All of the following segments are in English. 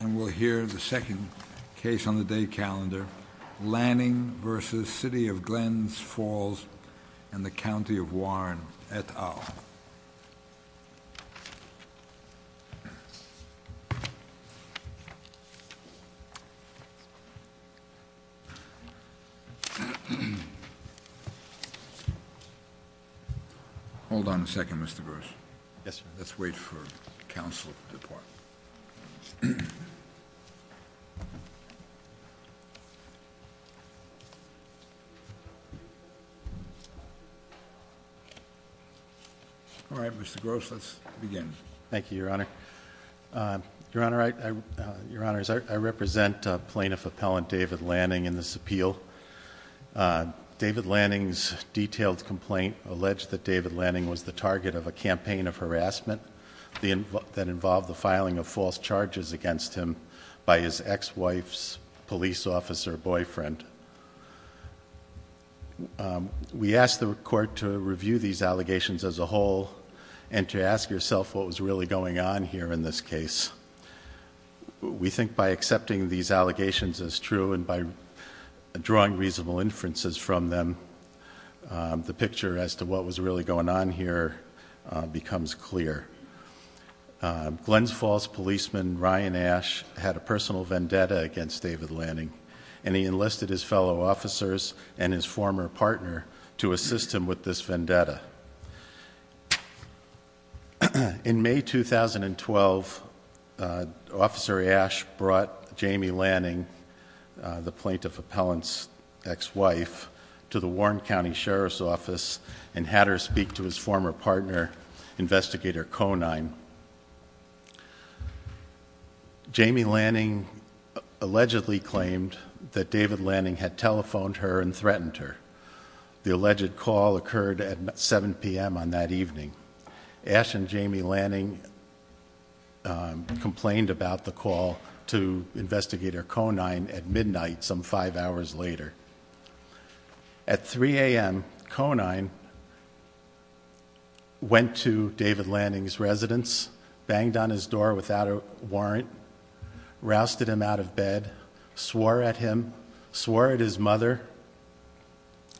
And we'll hear the second case on the day calendar, Lanning v. City of Glens Falls and the County of Warren et al. Hold on a second, Mr. Gross. Yes, sir. Let's wait for counsel to depart. All right, Mr. Gross, let's begin. Thank you, Your Honor. Your Honor, I represent Plaintiff Appellant David Lanning in this appeal. David Lanning's detailed complaint alleged that David Lanning was the target of a campaign of harassment that involved the filing of false charges against him by his ex-wife's police officer boyfriend. We asked the court to review these allegations as a whole and to ask yourself what was really going on here in this case. We think by accepting these allegations as true and by drawing reasonable inferences from them, the picture as to what was really going on here becomes clear. Glens Falls policeman Ryan Ashe had a personal vendetta against David Lanning, and he enlisted his fellow officers and his former partner to assist him with this vendetta. In May 2012, Officer Ashe brought Jamie Lanning, the Plaintiff Appellant's ex-wife, to the Warren County Sheriff's Office and had her speak to his former partner, Investigator Conine. Jamie Lanning allegedly claimed that David Lanning had telephoned her and threatened her. The alleged call occurred at 7 p.m. on that evening. Ashe and Jamie Lanning complained about the call to Investigator Conine at midnight some five hours later. At 3 a.m., Conine went to David Lanning's residence, banged on his door without a warrant, rousted him out of bed, swore at him, swore at his mother,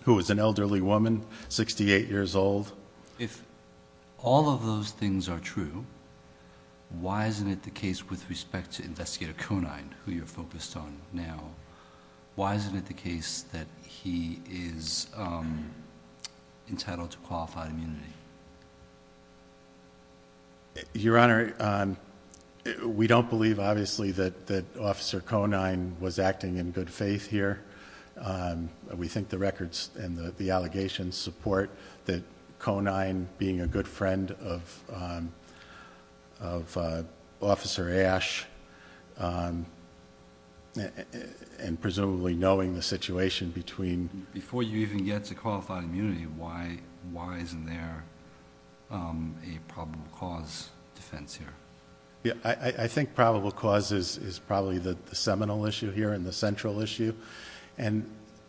who was an elderly woman, 68 years old. So if all of those things are true, why isn't it the case with respect to Investigator Conine, who you're focused on now, why isn't it the case that he is entitled to qualified immunity? Your Honor, we don't believe obviously that Officer Conine was acting in good faith here. We think the records and the allegations support that Conine being a good friend of Officer Ashe and presumably knowing the situation between... Before you even get to qualified immunity, why isn't there a probable cause defense here? I think probable cause is probably the seminal issue here and the central issue.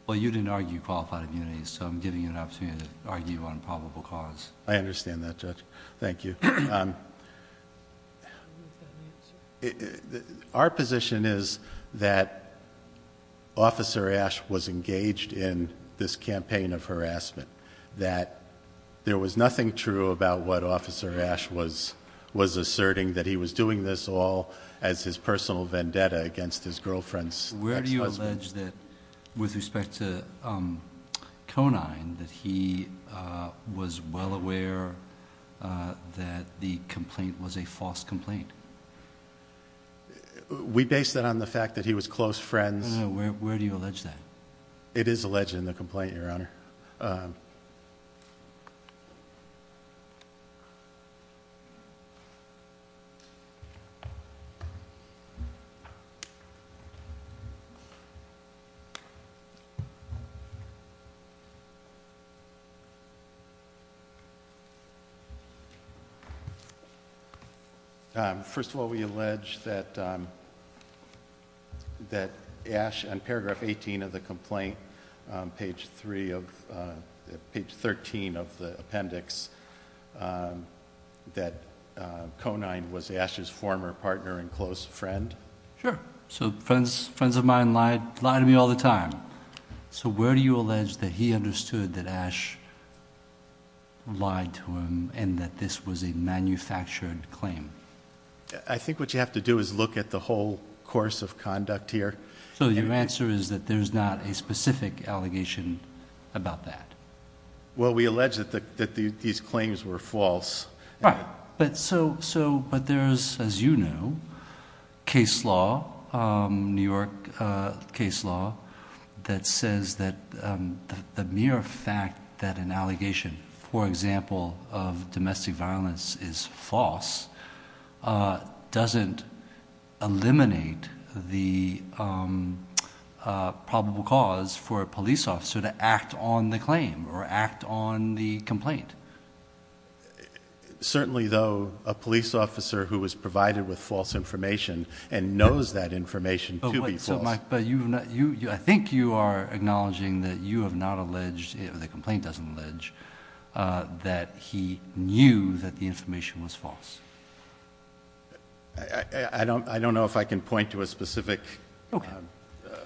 Well, you didn't argue qualified immunity, so I'm giving you an opportunity to argue on probable cause. I understand that, Judge. Thank you. Our position is that Officer Ashe was engaged in this campaign of harassment, that there was nothing true about what Officer Ashe was asserting, that he was doing this all as his personal vendetta against his girlfriend's ex-husband. With respect to Conine, that he was well aware that the complaint was a false complaint? We base that on the fact that he was close friends... Where do you allege that? It is alleged in the complaint, Your Honor. First of all, we allege that on paragraph 18 of the complaint, page 13 of the appendix, that Conine was Ashe's former partner and close friend? Sure. So friends of mine lie to me all the time. So where do you allege that he understood that Ashe lied to him and that this was a manufactured claim? I think what you have to do is look at the whole course of conduct here. So your answer is that there's not a specific allegation about that? Well, we allege that these claims were false. Right. But there's, as you know, case law, New York case law, that says that the mere fact that an allegation, for example, of domestic violence is false, doesn't eliminate the probable cause for a police officer to act on the claim or act on the complaint. Certainly, though, a police officer who was provided with false information and knows that information to be false... But you... I think you are acknowledging that you have not alleged, the complaint doesn't allege, that he knew that the information was false. I don't know if I can point to a specific...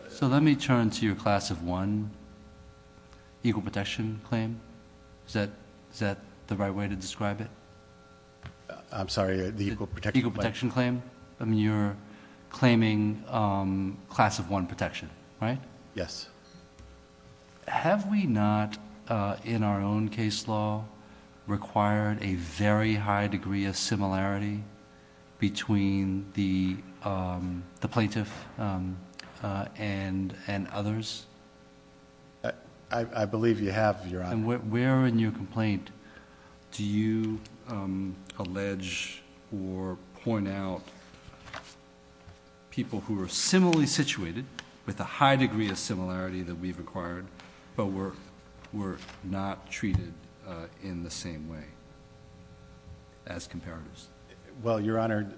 So let me turn to your class of one equal protection claim. Is that the right way to describe it? I'm sorry, the equal protection claim? The equal protection claim. I mean, you're claiming class of one protection, right? Yes. Have we not, in our own case law, required a very high degree of similarity between the plaintiff and others? I believe you have, Your Honor. And where in your complaint do you allege or point out people who are similarly situated, with a high degree of similarity that we've required, but were not treated in the same way as comparatives? Well, Your Honor,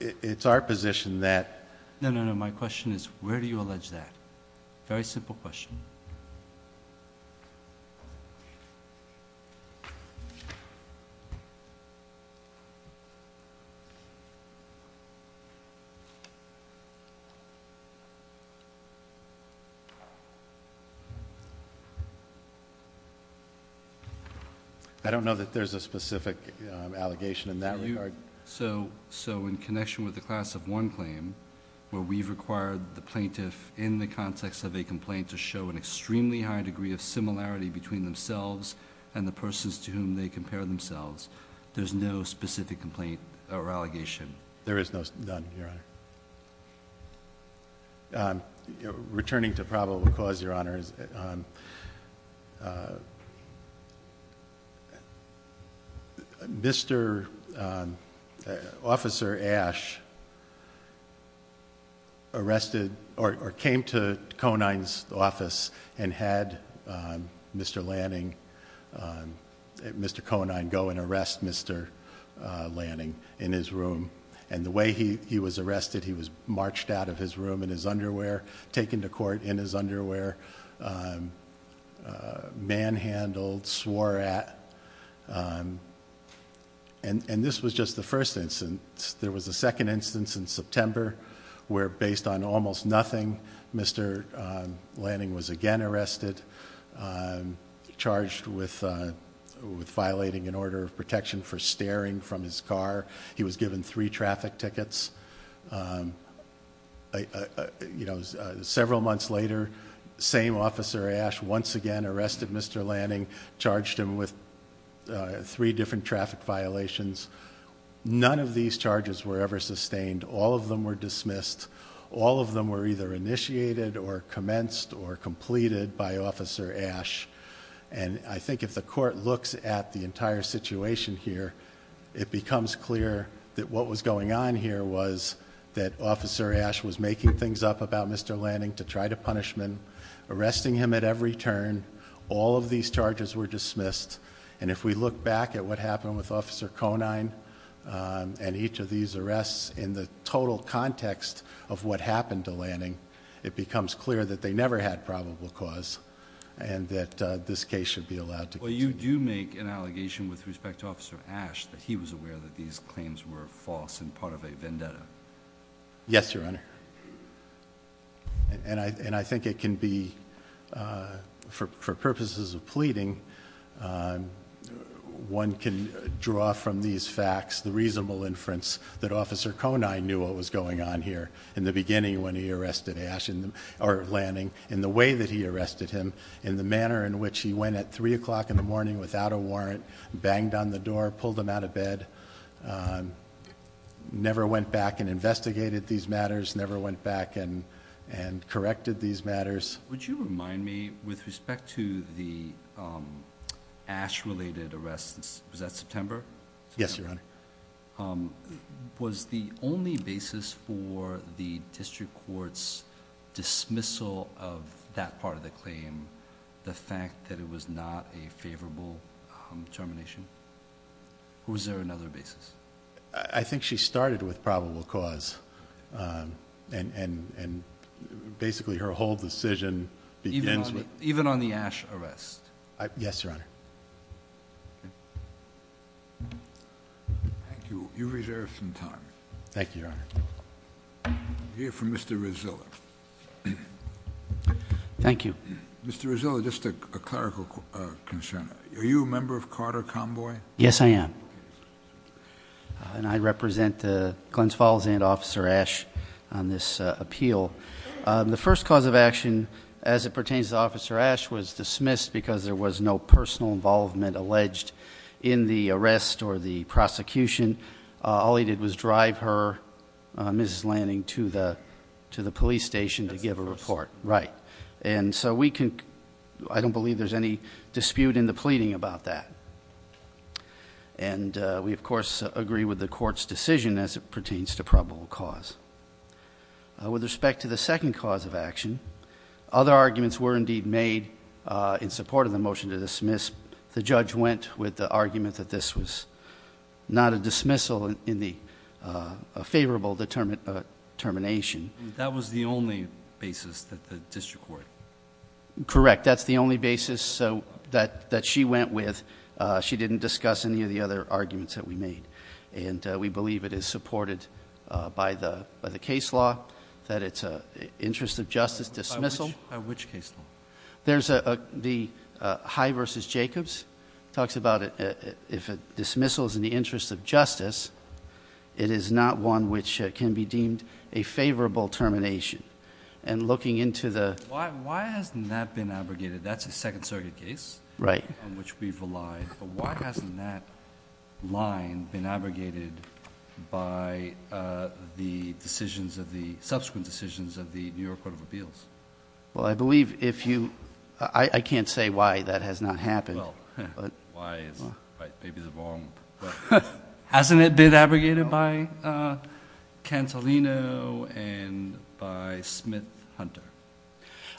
it's our position that... No, no, no. My question is, where do you allege that? Very simple question. I don't know that there's a specific allegation in that regard. So, in connection with the class of one claim, where we've required the plaintiff, in the context of a complaint, to show an extremely high degree of similarity between themselves and the persons to whom they compare themselves, there's no specific complaint or allegation? There is none, Your Honor. Returning to probable cause, Your Honor. Mr. Conine's office and had Mr. Lanning, Mr. Conine, go and arrest Mr. Lanning in his room. And the way he was arrested, he was marched out of his room in his underwear, taken to court in his underwear, manhandled, swore at, and this was just the first instance. There was a second instance in September where, based on almost nothing, Mr. Lanning was again arrested, charged with violating an order of protection for staring from his car. He was given three traffic tickets. Several months later, same officer, Ash, once again arrested Mr. Lanning, charged him with three different traffic violations. None of these charges were ever sustained. All of them were dismissed. All of them were either initiated or commenced or completed by Officer Ash. And I think if the court looks at the entire situation here, it becomes clear that what was going on here was that Officer Ash was making things up about Mr. Lanning to try to punish him, arresting him at every turn. All of these charges were dismissed. And if we look back at what happened with Officer Conine and each of these arrests in the total context of what happened to Lanning, it becomes clear that they never had probable cause and that this case should be allowed to continue. Well, you do make an allegation with respect to Officer Ash that he was aware that these claims were false and part of a vendetta. Yes, Your Honor. And I think it can be, for purposes of pleading, one can draw from these facts the reasonable inference that Officer Conine knew what was going on here in the beginning when he arrested Ash or Lanning, in the way that he arrested him, in the manner in which he went at 3 o'clock in the morning without a warrant, banged on the door, pulled him out of bed, never went back and investigated these matters, never went back and corrected these matters. Would you remind me, with respect to the Ash-related arrests, was that September? Yes, Your Honor. Was the only basis for the district court's dismissal of that part of the claim the fact that it was not a favorable termination? Or was there another basis? I think she started with probable cause and basically her whole decision begins with... Even on the Ash arrest? Yes, Your Honor. Thank you. You've reserved some time. Thank you, Your Honor. We'll hear from Mr. Rizzillo. Thank you. Mr. Rizzillo, just a clerical concern. Are you a member of Carter Convoy? Yes, I am. And I represent Glens Falls and Officer Ash on this appeal. The first cause of action as it pertains to Officer Ash was dismissed because there was no personal involvement alleged in the arrest or the prosecution. All he did was drive her, Mrs. Lanning, to the police station to give a report. Right. And so we can... I don't believe there's any dispute in the pleading about that. And we, of course, agree with the court's decision as it pertains to probable cause. With respect to the second cause of action, other arguments were indeed made in support of the motion to dismiss. The judge went with the argument that this was not a dismissal in the favorable determination. That was the only basis that the district court... Correct. That's the only basis that she went with. She didn't discuss any of the other arguments that we made. And we believe it is supported by the case law that it's an interest of justice dismissal. By which case law? There's the High v. Jacobs. It talks about if a dismissal is in the interest of justice, it is not one which can be deemed a favorable termination. And looking into the... Why hasn't that been abrogated? That's a Second Circuit case... Right.... on which we've relied. But why hasn't that line been abrogated by the decisions of the... subsequent decisions of the New York Court of Appeals? Well, I believe if you... I can't say why that has not happened. Well, why is... maybe the wrong... Hasn't it been abrogated by Cantolino and by Smith-Hunter?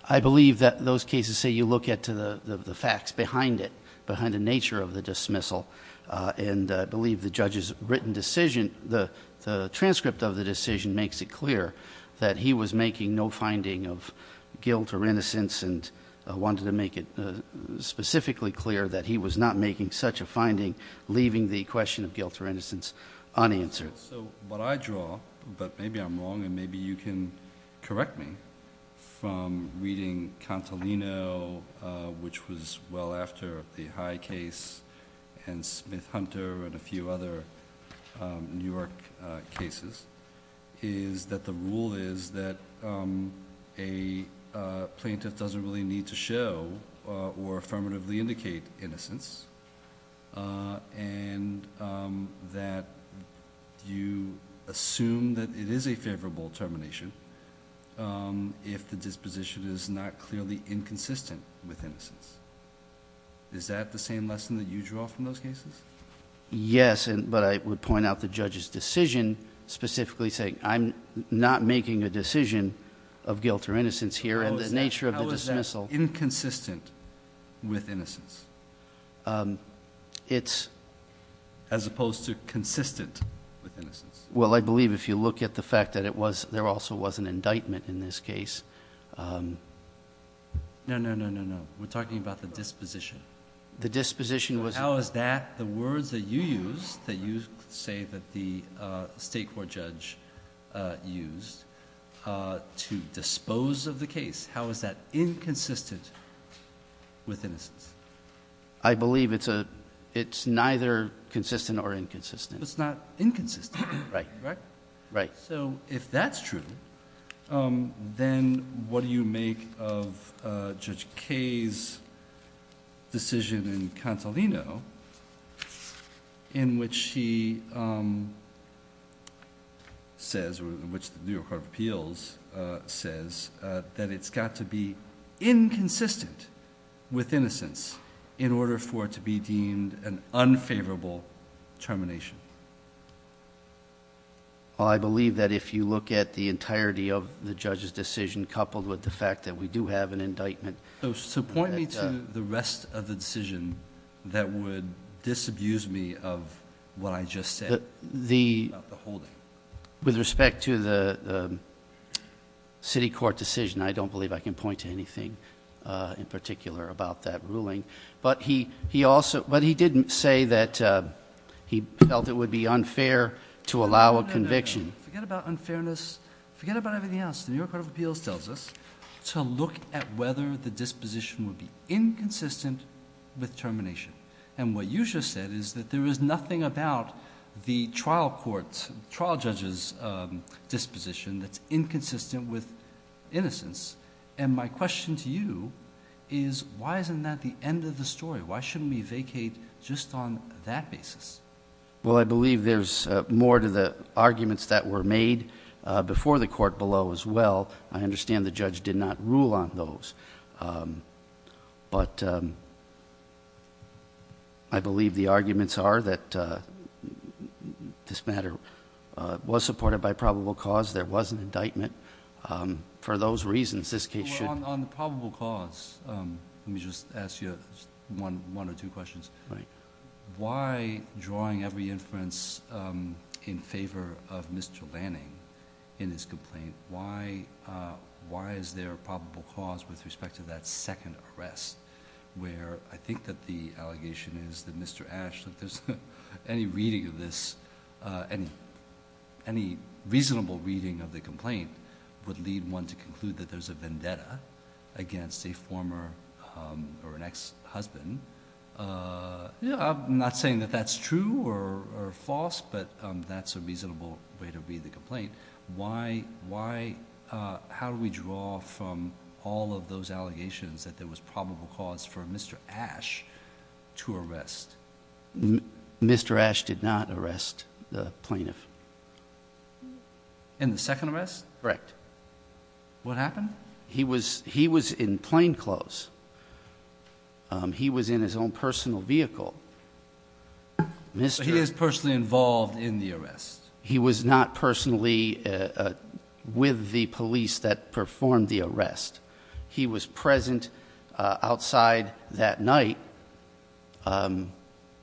I believe that those cases say you look at the facts behind it, behind the nature of the dismissal. And I believe the judge's written decision, the transcript of the decision, makes it clear that he was making no finding of guilt or innocence. And wanted to make it specifically clear that he was not making such a finding, leaving the question of guilt or innocence unanswered. So what I draw, but maybe I'm wrong and maybe you can correct me, from reading Cantolino, which was well after the High case, and Smith-Hunter and a few other New York cases, is that the rule is that a plaintiff doesn't really need to show or affirmatively indicate innocence. And that you assume that it is a favorable termination if the disposition is not clearly inconsistent with innocence. Is that the same lesson that you draw from those cases? Yes, but I would point out the judge's decision, specifically saying I'm not making a decision of guilt or innocence here, and the nature of the dismissal... It's... As opposed to consistent with innocence. Well, I believe if you look at the fact that there also was an indictment in this case... No, no, no, no, no. We're talking about the disposition. The disposition was... How is that, the words that you use, that you say that the state court judge used, to dispose of the case, how is that inconsistent with innocence? I believe it's neither consistent or inconsistent. It's not inconsistent. Right. Right. So, if that's true, then what do you make of Judge Kaye's decision in Cantolino, in which he says, or in which the New York Court of Appeals says, that it's got to be inconsistent with innocence in order for it to be deemed an unfavorable termination? Well, I believe that if you look at the entirety of the judge's decision, coupled with the fact that we do have an indictment... So, point me to the rest of the decision that would disabuse me of what I just said about the holding. With respect to the city court decision, I don't believe I can point to anything in particular about that ruling. But he did say that he felt it would be unfair to allow a conviction. Forget about unfairness. Forget about everything else. The New York Court of Appeals tells us to look at whether the disposition would be inconsistent with termination. And what you just said is that there is nothing about the trial judge's disposition that's inconsistent with innocence. And my question to you is, why isn't that the end of the story? Why shouldn't we vacate just on that basis? Well, I believe there's more to the arguments that were made before the court below as well. I understand the judge did not rule on those. But I believe the arguments are that this matter was supported by probable cause. There was an indictment. For those reasons, this case should... On probable cause, let me just ask you one or two questions. Right. Why drawing every inference in favor of Mr. Lanning in his complaint, why is there probable cause with respect to that second arrest? Where I think that the allegation is that Mr. Ashe, that there's any reading of this, any reasonable reading of the complaint, would lead one to conclude that there's a vendetta against a former or an ex-husband. I'm not saying that that's true or false, but that's a reasonable way to read the complaint. How do we draw from all of those allegations that there was probable cause for Mr. Ashe to arrest? Mr. Ashe did not arrest the plaintiff. In the second arrest? Correct. What happened? He was in plain clothes. He was in his own personal vehicle. He is personally involved in the arrest? He was not personally with the police that performed the arrest. He was present outside that night, and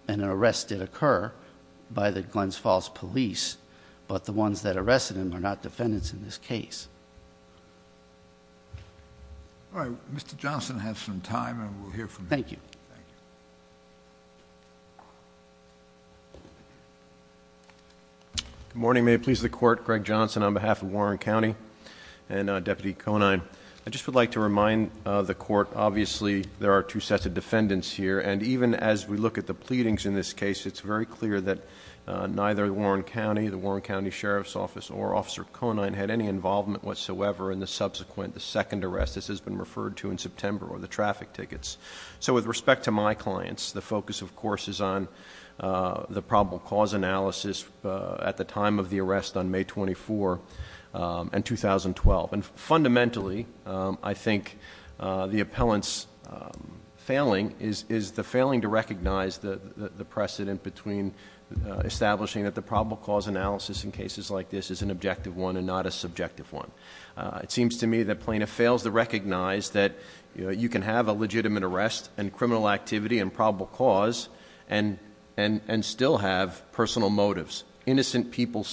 an arrest did occur by the Glens Falls Police, but the ones that arrested him are not defendants in this case. All right. Mr. Johnson has some time, and we'll hear from him. Thank you. Thank you. Good morning. May it please the Court, Greg Johnson on behalf of Warren County and Deputy Conine. I just would like to remind the Court, obviously, there are two sets of defendants here, and even as we look at the pleadings in this case, it's very clear that neither Warren County, the Warren County Sheriff's Office, or Officer Conine had any involvement whatsoever in the subsequent, the second arrest, as has been referred to in September, or the traffic tickets. So with respect to my clients, the focus, of course, is on the probable cause analysis at the time of the arrest on May 24 and 2012. And fundamentally, I think the appellant's failing is the failing to recognize the precedent between establishing that the probable cause analysis in cases like this is an objective one and not a subjective one. It seems to me that plaintiff fails to recognize that you can have a legitimate arrest and criminal activity and probable cause and still have personal motives. Innocent people,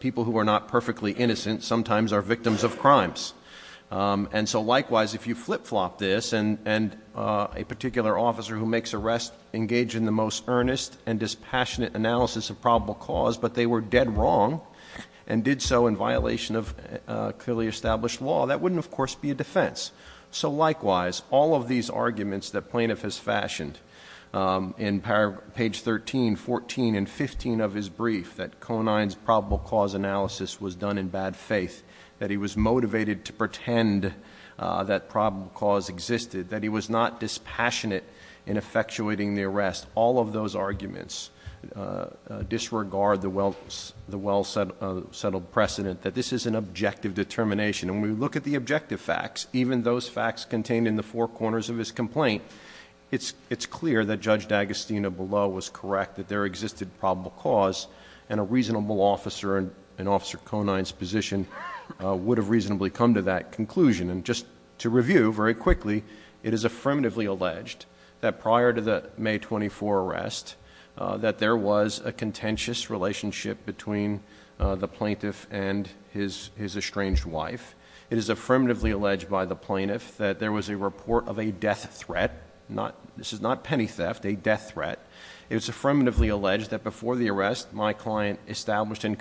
people who are not perfectly innocent, sometimes are victims of crimes. And so likewise, if you flip flop this, and a particular officer who makes this arrest engaged in the most earnest and dispassionate analysis of probable cause, but they were dead wrong and did so in violation of clearly established law, that wouldn't, of course, be a defense. So likewise, all of these arguments that plaintiff has fashioned in page 13, 14, and 15 of his brief, that Conine's probable cause analysis was done in bad faith, that he was motivated to pretend that probable cause existed, that he was not dispassionate in effectuating the arrest, all of those arguments disregard the well-settled precedent that this is an objective determination. And when we look at the objective facts, even those facts contained in the four corners of his complaint, it's clear that Judge D'Agostino below was correct that there existed probable cause and a reasonable officer in Officer Conine's position would have reasonably come to that conclusion. And just to review very quickly, it is affirmatively alleged that prior to the May 24 arrest, that there was a contentious relationship between the plaintiff and his estranged wife. It is affirmatively alleged by the plaintiff that there was a report of a death threat. This is not penny theft, a death threat. It is affirmatively alleged that before the arrest, my client established and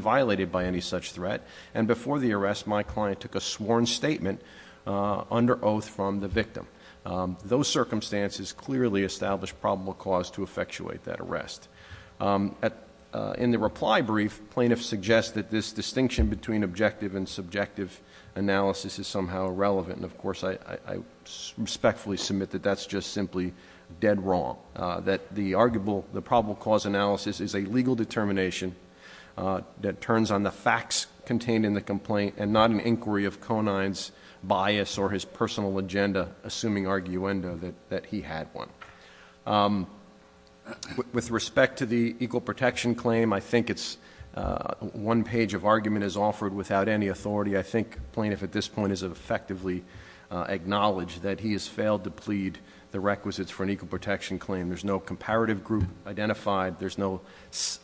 violated by any such threat, and before the arrest, my client took a sworn statement under oath from the victim. Those circumstances clearly established probable cause to effectuate that arrest. In the reply brief, plaintiffs suggest that this distinction between objective and subjective analysis is somehow irrelevant. And of course, I respectfully submit that that's just simply dead wrong, that the probable cause analysis is a legal determination that turns on the facts contained in the complaint and not an inquiry of Conine's bias or his personal agenda, assuming arguendo that he had one. With respect to the equal protection claim, I think it's one page of argument is offered without any authority. I think plaintiff at this point has effectively acknowledged that he has failed to There's no comparative group identified, there's no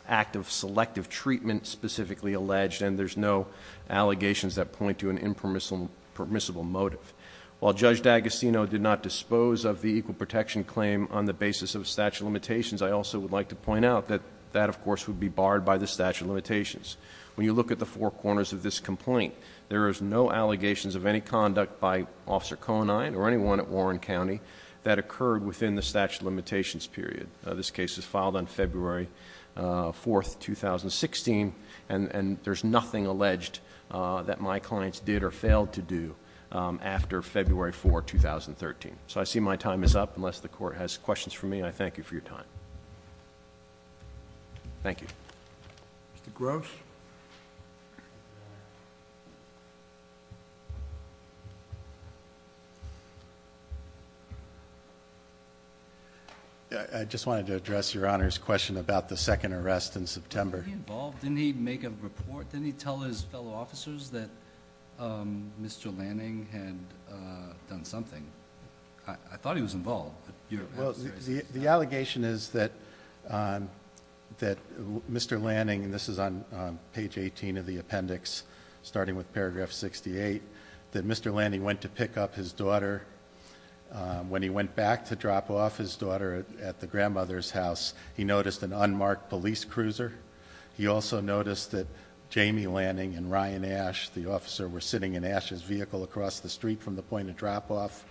active selective treatment specifically alleged, and there's no allegations that point to an impermissible motive. While Judge D'Agostino did not dispose of the equal protection claim on the basis of statute of limitations, I also would like to point out that that, of course, would be barred by the statute of limitations. When you look at the four corners of this complaint, there is no allegations of any conduct by Officer Conine or anyone at Warren County that occurred within the statute of limitations period. This case is filed on February 4th, 2016, and there's nothing alleged that my clients did or failed to do after February 4th, 2013. So I see my time is up, unless the court has questions for me, I thank you for your time. Thank you. Mr. Gross? I just wanted to address your Honor's question about the second arrest in September. Wasn't he involved? Didn't he make a report? Didn't he tell his fellow officers that Mr. Lanning had done something? I thought he was involved, but you're- Well, the allegation is that Mr. Lanning, and this is on page 18 of the appendix, starting with paragraph 68, that Mr. Lanning went to pick up his daughter when he went back to drop off his daughter at the grandmother's house. He noticed an unmarked police cruiser. He also noticed that Jamie Lanning and Ryan Ash, the officer, were sitting in Ash's vehicle across the street from the point of drop off.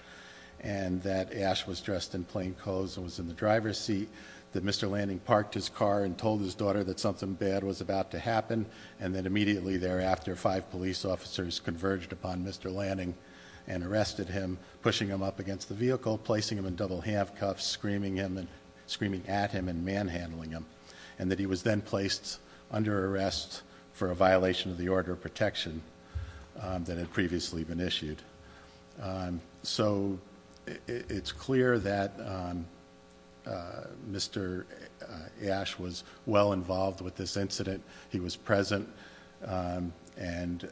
And that Ash was dressed in plain clothes and was in the driver's seat. That Mr. Lanning parked his car and told his daughter that something bad was about to happen. And that immediately thereafter, five police officers converged upon Mr. Lanning and arrested him, pushing him up against the vehicle, placing him in double handcuffs, screaming at him and manhandling him. And that he was then placed under arrest for a violation of the order of protection that had previously been issued. So it's clear that Mr. Ash was well involved with this incident. He was present and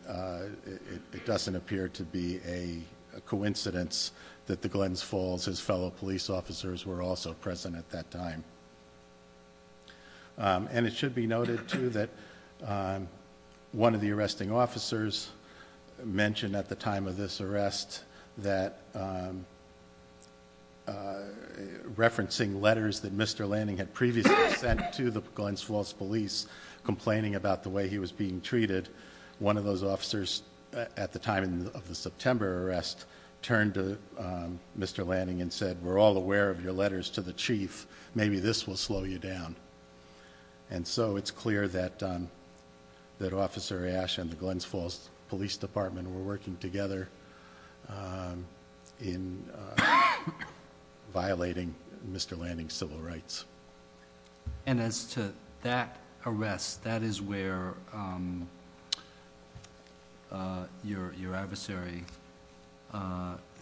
it doesn't appear to be a coincidence that the Glens Falls, his fellow police officers, were also present at that time. And it should be noted too that one of the arresting officers mentioned at the time of this arrest that referencing letters that Mr. Lanning had previously sent to the Glens Falls police complaining about the way he was being treated. One of those officers at the time of the September arrest turned to Mr. Lanning and said, we're all aware of your letters to the chief, maybe this will slow you down. And so it's clear that Officer Ash and the Glens Falls Police Department were working together in violating Mr. Lanning's civil rights. And as to that arrest, that is where your adversary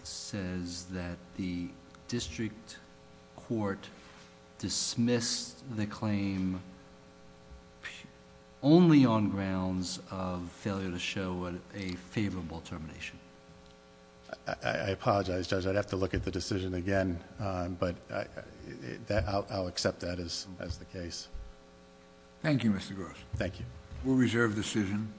says that the district court dismissed the claim only on grounds of failure to show a favorable termination. I apologize, Judge, I'd have to look at the decision again, but I'll accept that as the case. Thank you, Mr. Gross. Thank you. We'll reserve decision.